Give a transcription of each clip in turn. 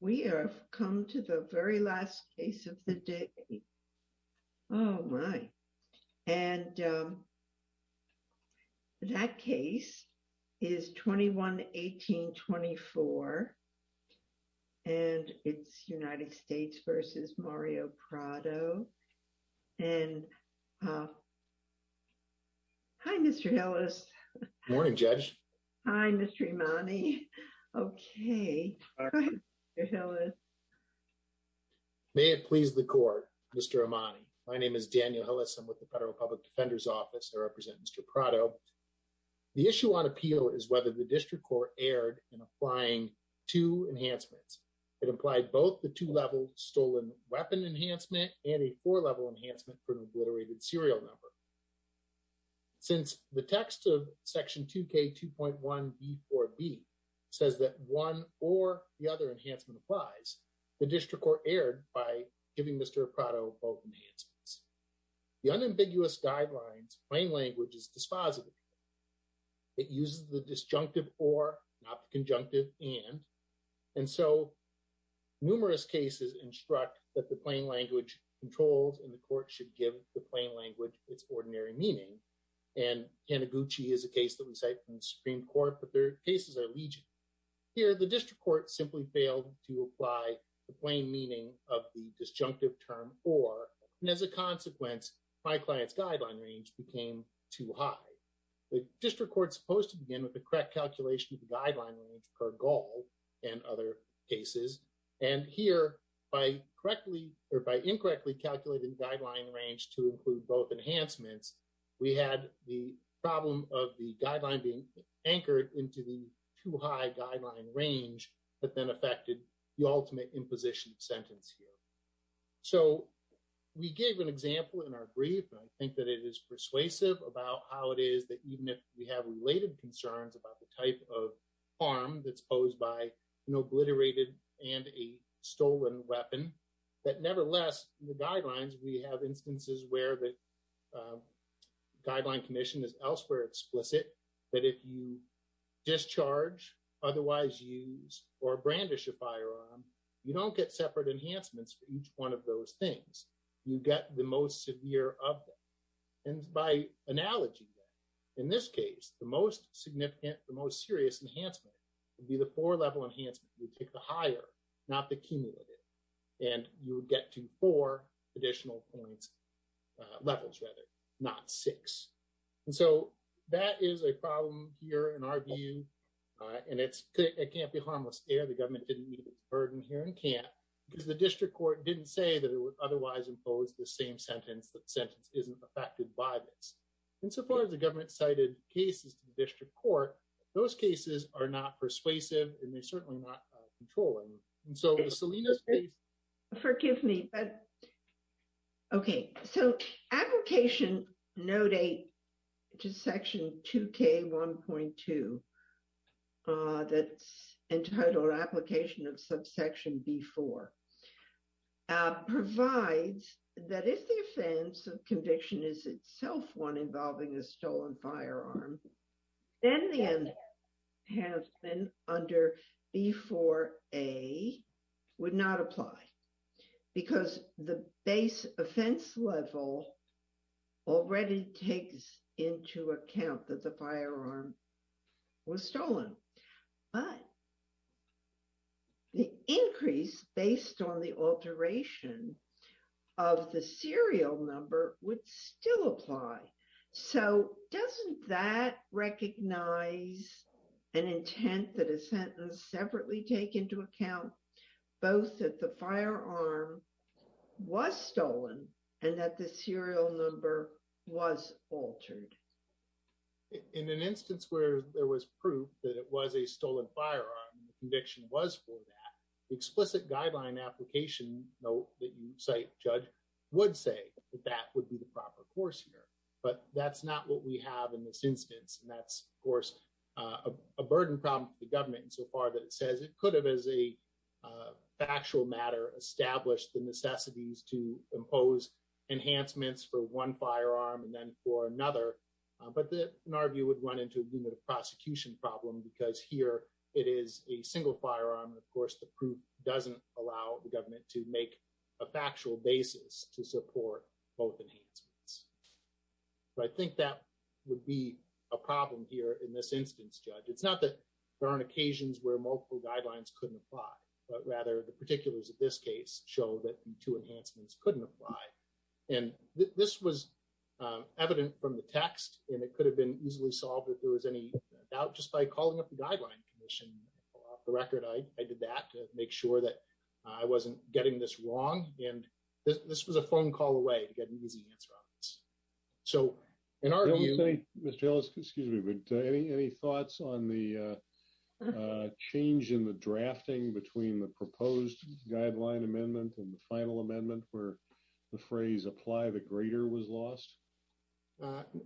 We have come to the very last case of the day. Oh, my. And that case is 21-18-24, and Mr. Imani, okay. Daniel Hillis May it please the court, Mr. Imani. My name is Daniel Hillis. I'm with the Federal Public Defender's Office. I represent Mr. Prado. The issue on appeal is whether the district court erred in applying two enhancements. It implied both the two-level stolen weapon enhancement and a four-level enhancement for an obliterated serial number. Since the text of Section 2k 2.1b4b says that one or the other enhancement applies, the district court erred by giving Mr. Prado both enhancements. The unambiguous guidelines plain language is dispositive. It uses the disjunctive or, not the conjunctive and, and so numerous cases instruct that the plain language controls and the court should give the plain language its ordinary meaning. And Kanaguchi is a case that we cite from the Supreme Court, but their cases are legion. Here, the district court simply failed to apply the plain meaning of the disjunctive term or, and as a consequence, my client's guideline range became too high. The district court's supposed to begin with the correct calculation of the guideline range per gall and other cases. And here, by correctly, or by incorrectly calculating the guideline range to include both enhancements, we had the problem of the guideline being anchored into the too high guideline range, but then affected the ultimate imposition sentence here. So we gave an example in our brief, and I think that it is persuasive about how it is that even we have related concerns about the type of harm that's posed by an obliterated and a stolen weapon, but nevertheless, the guidelines, we have instances where the guideline commission is elsewhere explicit that if you discharge, otherwise use, or brandish a firearm, you don't get separate enhancements for each one of those things. You get the most severe of them. And by analogy, in this case, the most significant, the most serious enhancement would be the four-level enhancement. You take the higher, not the cumulative, and you would get to four additional points, levels rather, not six. And so that is a problem here in our view, and it can't be harmless here. The government didn't meet its burden here and can't because the district court didn't say that it would otherwise impose the same sentence that sentence isn't affected by this. And so far as the government cited cases to the district court, those cases are not persuasive, and they're certainly not controlling. And so the Salinas case... Forgive me, but... Okay. So application no date to section 2K1.2, that's entitled application of subsection B4, provides that if the offense of conviction is itself one involving a stolen firearm, then the end has been under B4A would not apply because the base offense level already takes into account that the firearm was stolen. But the increase based on the alteration of the serial number would still apply. So doesn't that recognize an intent that a sentence separately take into account both that the firearm was stolen and that the serial number was altered? In an instance where there was proof that it was a firearm and the conviction was for that, the explicit guideline application note that you cite, Judge, would say that that would be the proper course here. But that's not what we have in this instance. And that's, of course, a burden problem for the government insofar that it says it could have, as a factual matter, established the necessities to impose enhancements for one firearm and then for another. But in our view, it would run into a unit of prosecution problem because here it is a single firearm. And of course, the proof doesn't allow the government to make a factual basis to support both enhancements. But I think that would be a problem here in this instance, Judge. It's not that there aren't occasions where multiple guidelines couldn't apply, but rather the particulars of this case show that the two enhancements couldn't apply. And this was evident from the text, and it could have been easily solved if there was any doubt just by calling up the Guideline Commission. Off the record, I did that to make sure that I wasn't getting this wrong. And this was a phone call away to get an easy answer on this. So in our view... I don't think, Mr. Ellis, excuse me, but any thoughts on the change in the drafting between the proposed guideline amendment and the final amendment where the phrase, apply the greater, was lost?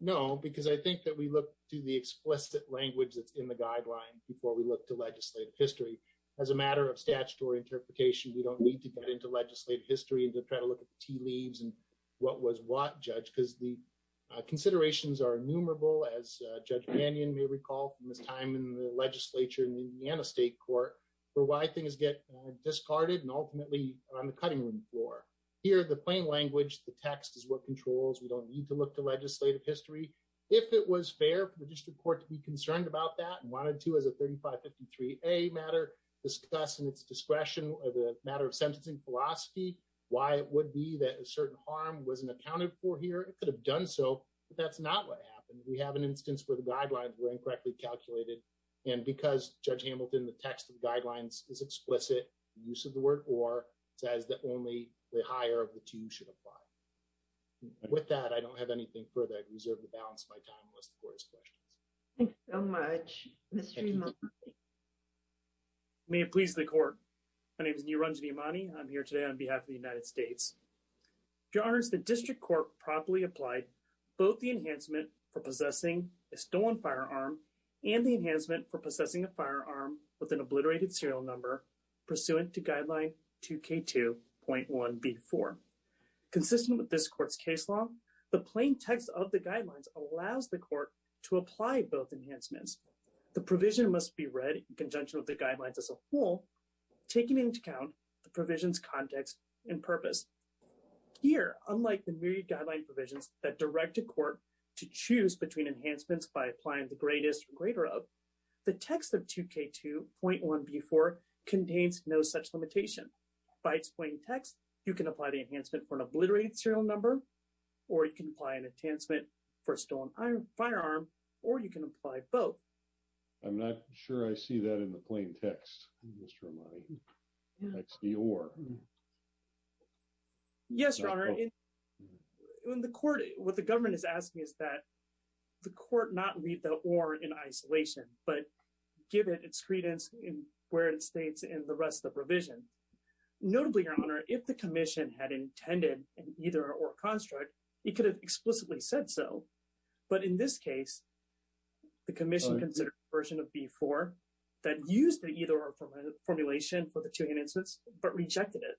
No, because I think that we look to the explicit language that's in the guideline before we look to legislative history. As a matter of statutory interpretation, we don't need to get into legislative history and to try to look at the tea leaves and what was what, Judge, because the considerations are innumerable, as Judge Mannion may recall from his time in the legislature in the Indiana State Court, for why things get discarded and ultimately on the cutting room floor. Here, the plain language, the text is what controls. We don't need to look to legislative history. If it was fair for the district court to be concerned about that and wanted to, as a 3553A matter, discuss in its discretion the matter of sentencing philosophy, why it would be that a certain harm wasn't accounted for here, it could have done so, but that's not what happened. We have an instance where the guidelines were incorrectly calculated. And because, Judge should apply. With that, I don't have anything further. I reserve the balance of my time unless the court has questions. Thanks so much, Mr. Imani. May it please the court. My name is Niranjani Imani. I'm here today on behalf of the United States. Your honors, the district court promptly applied both the enhancement for possessing a stolen firearm and the enhancement for possessing a firearm with an obliterated serial number pursuant to guideline 2K2.1B4. Consistent with this court's case law, the plain text of the guidelines allows the court to apply both enhancements. The provision must be read in conjunction with the guidelines as a whole, taking into account the provision's context and purpose. Here, unlike the myriad guideline provisions that direct a court to choose between enhancements by applying the greatest or greater the text of 2K2.1B4 contains no such limitation. By its plain text, you can apply the enhancement for an obliterated serial number, or you can apply an enhancement for a stolen firearm, or you can apply both. I'm not sure I see that in the plain text, Mr. Imani. That's the or. Yes, your honor. In the court, what the government is asking is that the court not read the or in isolation, but give it its credence where it states in the rest of the provision. Notably, your honor, if the commission had intended an either or construct, it could have explicitly said so. But in this case, the commission considered a version of B4 that used the either or formulation for the two enhancements, but rejected it.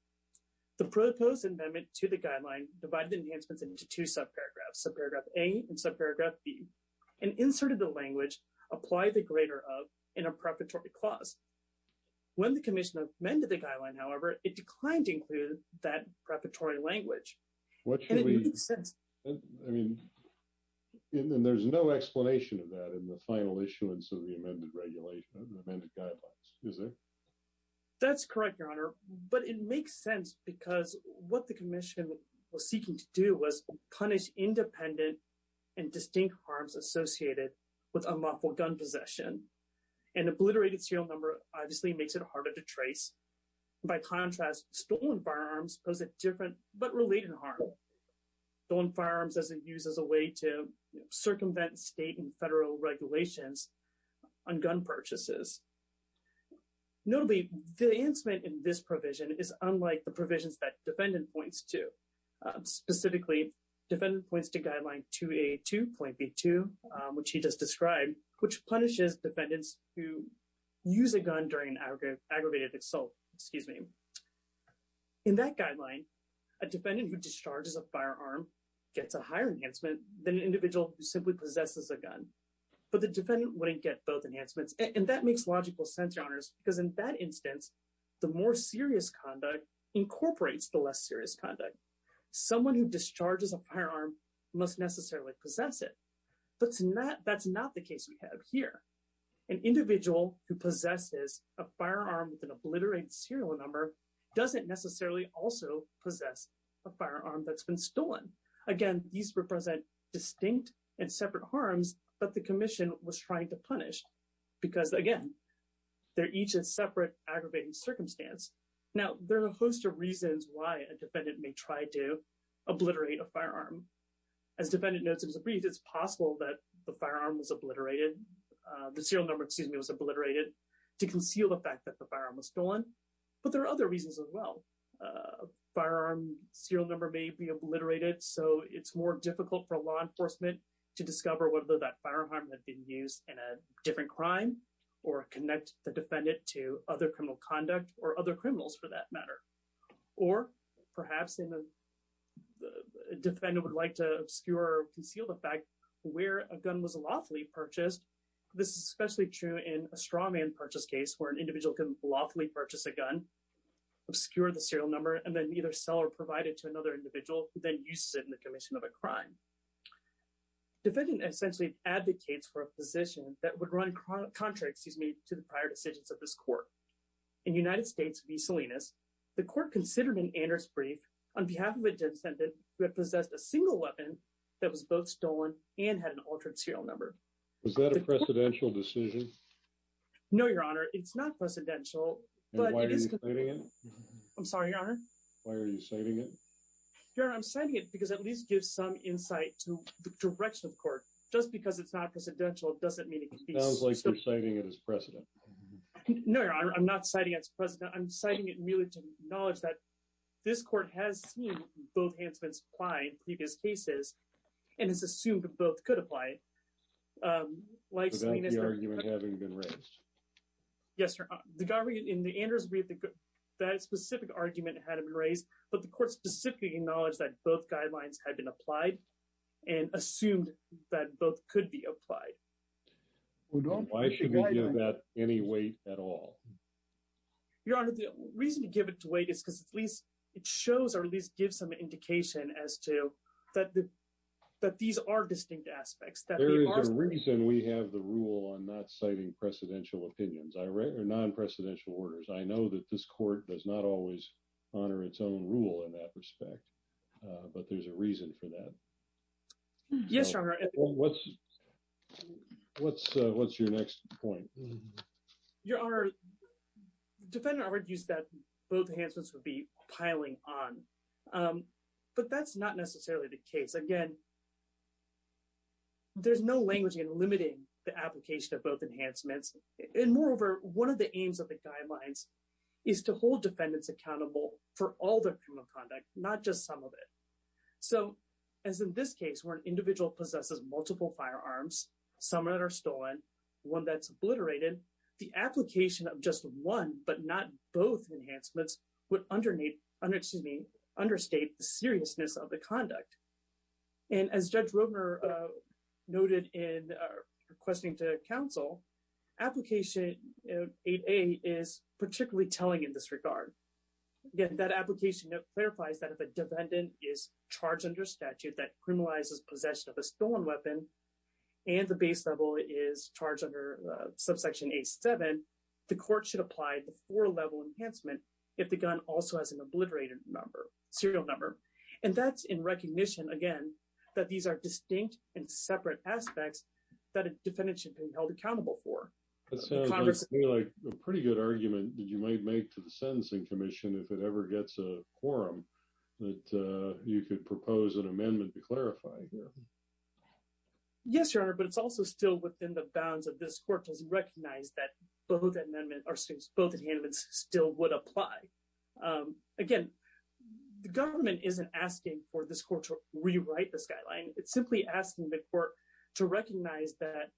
The proposed amendment to the guideline divided the enhancements into two subparagraphs, subparagraph A and subparagraph B, and inserted the language, apply the greater of, in a preparatory clause. When the commission amended the guideline, however, it declined to include that preparatory language. And it makes sense. I mean, there's no explanation of that in the final issuance of the amended regulation, amended guidelines, is there? That's correct, your honor. But it makes sense because what the commission was seeking to do was punish independent and distinct harms associated with unlawful gun possession. An obliterated serial number obviously makes it harder to trace. By contrast, stolen firearms pose a different but related harm. Stolen firearms as it uses a way to circumvent state and federal regulations on gun purchases. Notably, the enhancement in this that defendant points to. Specifically, defendant points to guideline 282.B2, which he just described, which punishes defendants who use a gun during an aggravated assault. Excuse me. In that guideline, a defendant who discharges a firearm gets a higher enhancement than an individual who simply possesses a gun. But the defendant wouldn't get both enhancements. And that makes logical sense, your honors, because in that instance, the more serious conduct incorporates the less serious conduct. Someone who discharges a firearm must necessarily possess it. But that's not the case we have here. An individual who possesses a firearm with an obliterated serial number doesn't necessarily also possess a firearm that's been stolen. Again, these represent distinct and separate harms, but the commission was trying to punish because, again, they're each a separate aggravating circumstance. Now, there are a host of reasons why a defendant may try to obliterate a firearm. As defendant notes in his brief, it's possible that the firearm was obliterated, the serial number, excuse me, was obliterated to conceal the fact that the firearm was stolen. But there are other reasons as well. Firearm serial number may be obliterated, so it's more difficult for law enforcement to discover whether that firearm had been used in a different crime or connect the defendant to other criminal conduct or other criminals for that matter. Or perhaps the defendant would like to obscure or conceal the fact where a gun was lawfully purchased. This is especially true in a straw man purchase case where an individual can lawfully purchase a gun, obscure the serial number, and then either sell or provide it to another individual, then you sit in the commission of a crime. Defendant essentially advocates for a position that would run contrary, excuse me, to the prior decisions of this court. In United States v. Salinas, the court considered in Anders' brief on behalf of a defendant who had possessed a single weapon that was both stolen and had an altered serial number. Was that a precedential decision? No, your honor, it's not precedential. Why are you citing it? I'm sorry, your honor. Why are you citing it? Your honor, I'm citing it because it at least gives some insight to the direction of court. Just because it's not precedential doesn't mean it can be... Sounds like you're citing it as precedent. No, your honor, I'm not citing it as precedent. I'm citing it merely to acknowledge that this court has seen both enhancements apply in previous cases and has assumed that both could apply. Is that the argument having been raised? Yes, your honor. In Anders' brief, that specific argument had been raised, but the court specifically acknowledged that both guidelines had been applied and assumed that both could be applied. Why should we give that any weight at all? Your honor, the reason to give it weight is because at least it shows or at least gives some indication as to that these are distinct aspects. There is a reason we have the rule on not citing precedential opinions or non-precedential orders. I know that this court does not always honor its own rule in that respect, but there's a reason for that. Yes, your honor. What's your next point? Your honor, the defendant argued that both enhancements would be piling on, but that's not necessarily the case. Again, there's no language in limiting the application of both enhancements. And moreover, one of the aims of the guidelines is to hold defendants accountable for all their criminal conduct, not just some of it. So as in this case, where an individual possesses multiple firearms, some that are stolen, one that's obliterated, the application of just one but not both enhancements would understate the seriousness of the conduct. And as Judge Roedner noted in requesting to counsel, application 8A is particularly telling in this regard. Again, that application clarifies that if a defendant is charged under statute that criminalizes possession of a stolen weapon and the base level is charged under subsection 8-7, the court should apply the four-level enhancement if the gun also has an obliterated number, serial number. And that's in recognition, again, that these are distinct and separate aspects that a defendant should be held accountable for. It sounds like a pretty good argument that you might make to the Sentencing Commission if it ever gets a quorum that you could propose an amendment to clarify here. Yes, your honor, but it's also still within the bounds of this court that both enhancements still would apply. Again, the government isn't asking for this court to rewrite this guideline. It's simply asking the court to recognize that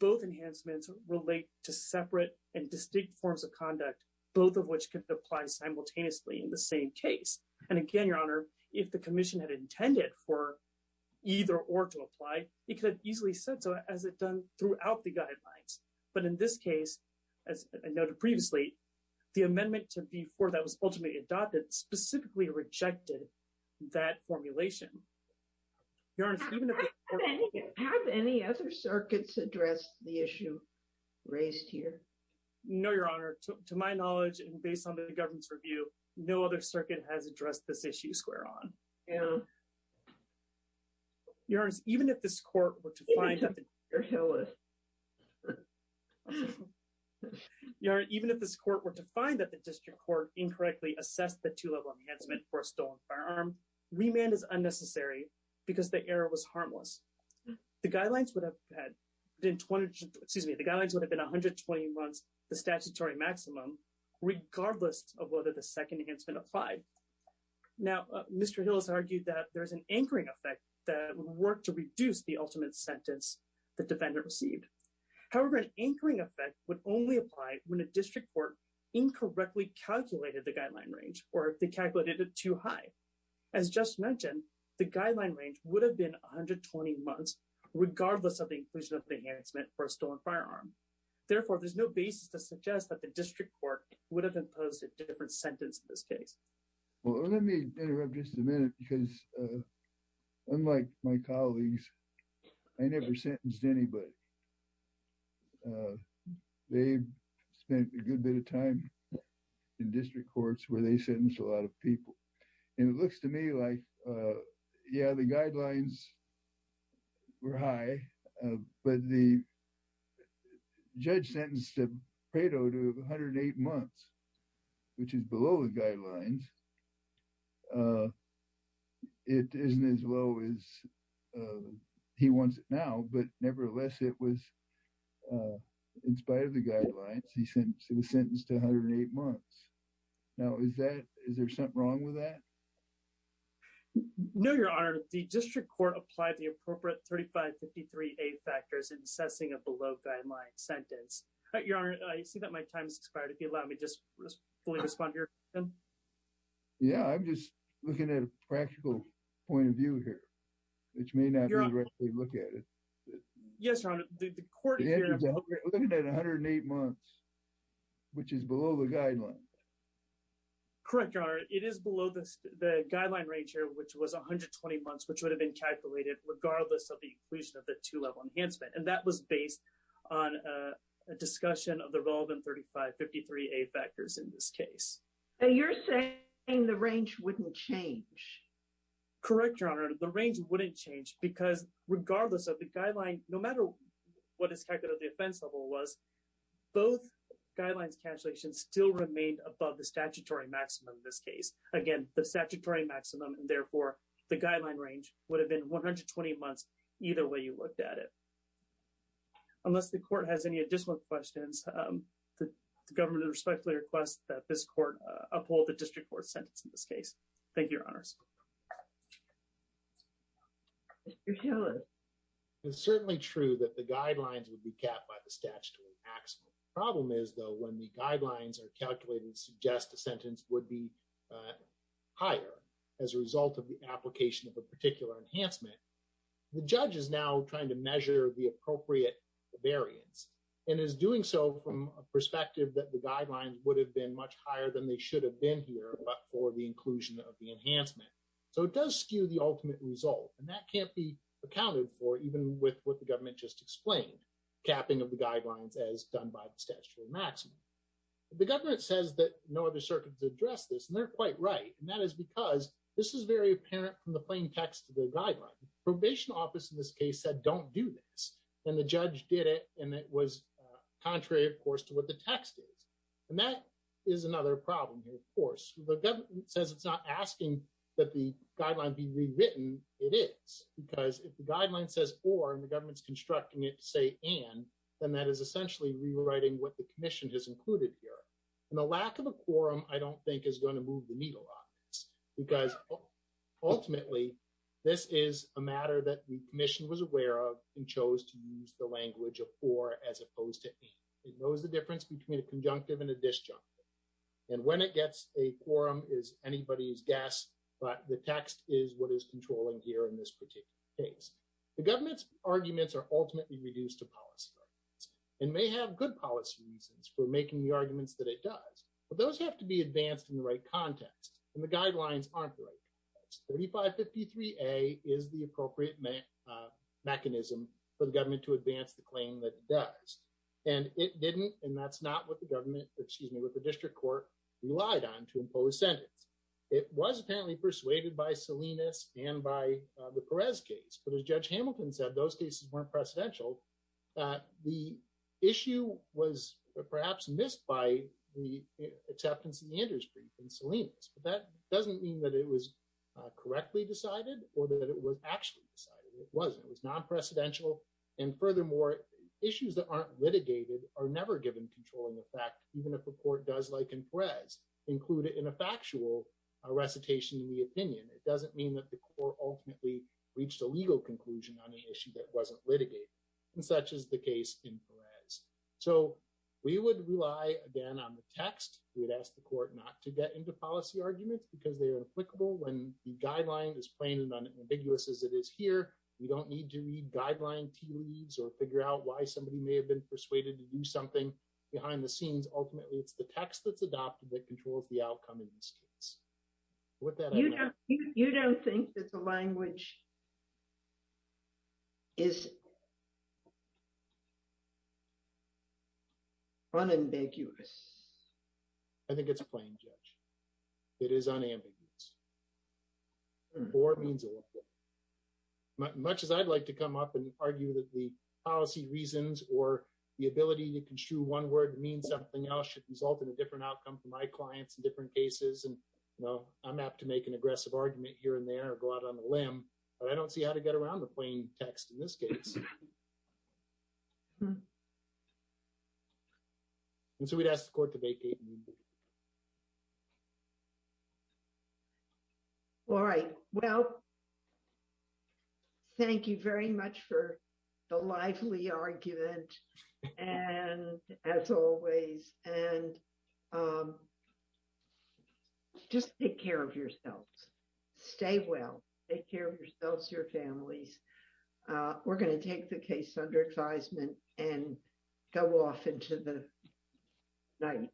both enhancements relate to separate and distinct forms of conduct, both of which could apply simultaneously in the same case. And again, your honor, if the commission had intended for either or to apply, it could easily said so as it done throughout the guidelines. But in this case, as I noted previously, the amendment to B-4 that was ultimately adopted specifically rejected that formulation. Have any other circuits addressed the issue raised here? No, your honor, to my knowledge, and based on the government's review, no other circuit has addressed this issue square on. Yeah. Your honor, even if this court were to find that the district court incorrectly assessed the two-level enhancement for a stolen firearm, remand is unnecessary because the error was harmless. The guidelines would have been 120 months, the statutory maximum, regardless of the second enhancement applied. Now, Mr. Hill has argued that there's an anchoring effect that would work to reduce the ultimate sentence the defendant received. However, an anchoring effect would only apply when a district court incorrectly calculated the guideline range or if they calculated it too high. As just mentioned, the guideline range would have been 120 months, regardless of the inclusion of the enhancement for a stolen firearm. Therefore, there's no basis to this case. Well, let me interrupt just a minute because unlike my colleagues, I never sentenced anybody. They spent a good bit of time in district courts where they sentenced a lot of people. And it looks to me like, yeah, the guidelines were high, but the judge sentenced Prado to 108 months, which is below the guidelines. It isn't as low as he wants it now, but nevertheless, it was in spite of the guidelines, he sentenced to 108 months. Now, is there something wrong with that? No, your honor. The district court applied the appropriate 3553A factors in assessing a below-guideline sentence. Your honor, I see that my time has expired. If you allow me to just fully respond to your question. Yeah, I'm just looking at a practical point of view here, which may not be the right way to look at it. Yes, your honor. The court is looking at 108 months, which is below the guidelines. Correct, your honor. It is below the guideline range here, which was 120 months, which would have been calculated regardless of the inclusion of the 2-level enhancement. And that was based on a discussion of the relevant 3553A factors in this case. And you're saying the range wouldn't change? Correct, your honor. The range wouldn't change because regardless of the guideline, no matter what is calculated at the offense level was, both guidelines cancellation still remained above the statutory maximum in this case. Again, the statutory maximum, and therefore the guideline range would have been 120 months, either way you looked at it. Unless the court has any additional questions, the government respectfully requests that this court uphold the district court sentence in this case. Thank you, your honors. Your honor. It's certainly true that the guidelines would be capped by the statutory maximum. The problem is though, when the guidelines are calculated to suggest a sentence would be higher as a result of the application of a particular enhancement, the judge is now trying to measure the appropriate variance and is doing so from a perspective that the guidelines would have been much higher than they should have been here, but for the inclusion of the enhancement. So it does skew the ultimate result. And that can't be accounted for even with what the government just explained, capping of the guidelines as done by the statutory maximum. The government says that no other circuit to address this. And they're quite right. And that is because this is very apparent from the plain text of the guideline. Probation office in this case said, don't do this. And the judge did it. And it was contrary, of course, to what the text is. And that is another problem here. Of course, the government says it's not asking that the guideline be rewritten. It is because if the guideline says, or the government's constructing it to say, and, then that is essentially rewriting what the commission has included here. And the lack of a quorum, I don't think is going to move the needle on this, because ultimately, this is a matter that the commission was aware of and chose to use the language of for as opposed to and. It knows the difference between a conjunctive and a disjunctive. And when it gets a quorum is anybody's guess. But the text is what is controlling here in this particular case. The government's arguments are ultimately reduced to policy. And may have good policy reasons for making the arguments that it does. But those have to be advanced in the right context. And the guidelines aren't like 3553 a is the appropriate mechanism for the government to advance the claim that does. And it didn't. And that's not what the government, excuse me, what the district court relied on to impose sentence. It was apparently persuaded by Salinas and by the Perez case, but as Judge Hamilton said, those cases weren't precedential. The issue was perhaps missed by the acceptance of the Anders brief in Salinas. But that doesn't mean that it was correctly decided or that it was actually decided. It wasn't. It was non-precedential. And furthermore, issues that aren't litigated are never given controlling effect, even if the court does, like in Perez, include it in a factual recitation in the opinion. It doesn't mean that the court ultimately reached a legal conclusion on the issue that wasn't litigated. And such is the case in Perez. So we would rely again on the text. We would ask the court not to get into policy arguments because they are applicable when the guideline is plain and unambiguous as it is here. We don't need to read guideline tea leaves or figure out why somebody may have been persuaded to do something behind the scenes. Ultimately, it's the text that's adopted that controls the language. It is unambiguous. I think it's plain, Judge. It is unambiguous. Much as I'd like to come up and argue that the policy reasons or the ability to construe one word to mean something else should result in a different outcome for my clients in different cases. And, you know, I'm apt to make an aggressive argument here and there or go out on a limb, but I don't see how to get around the plain text in this case. And so we'd ask the court to vacate. All right. Well, thank you very much for the lively argument. And as always, and just take care of yourselves. Stay well. Take care of yourselves, your families. We're going to take the case under advisement and go off into the night.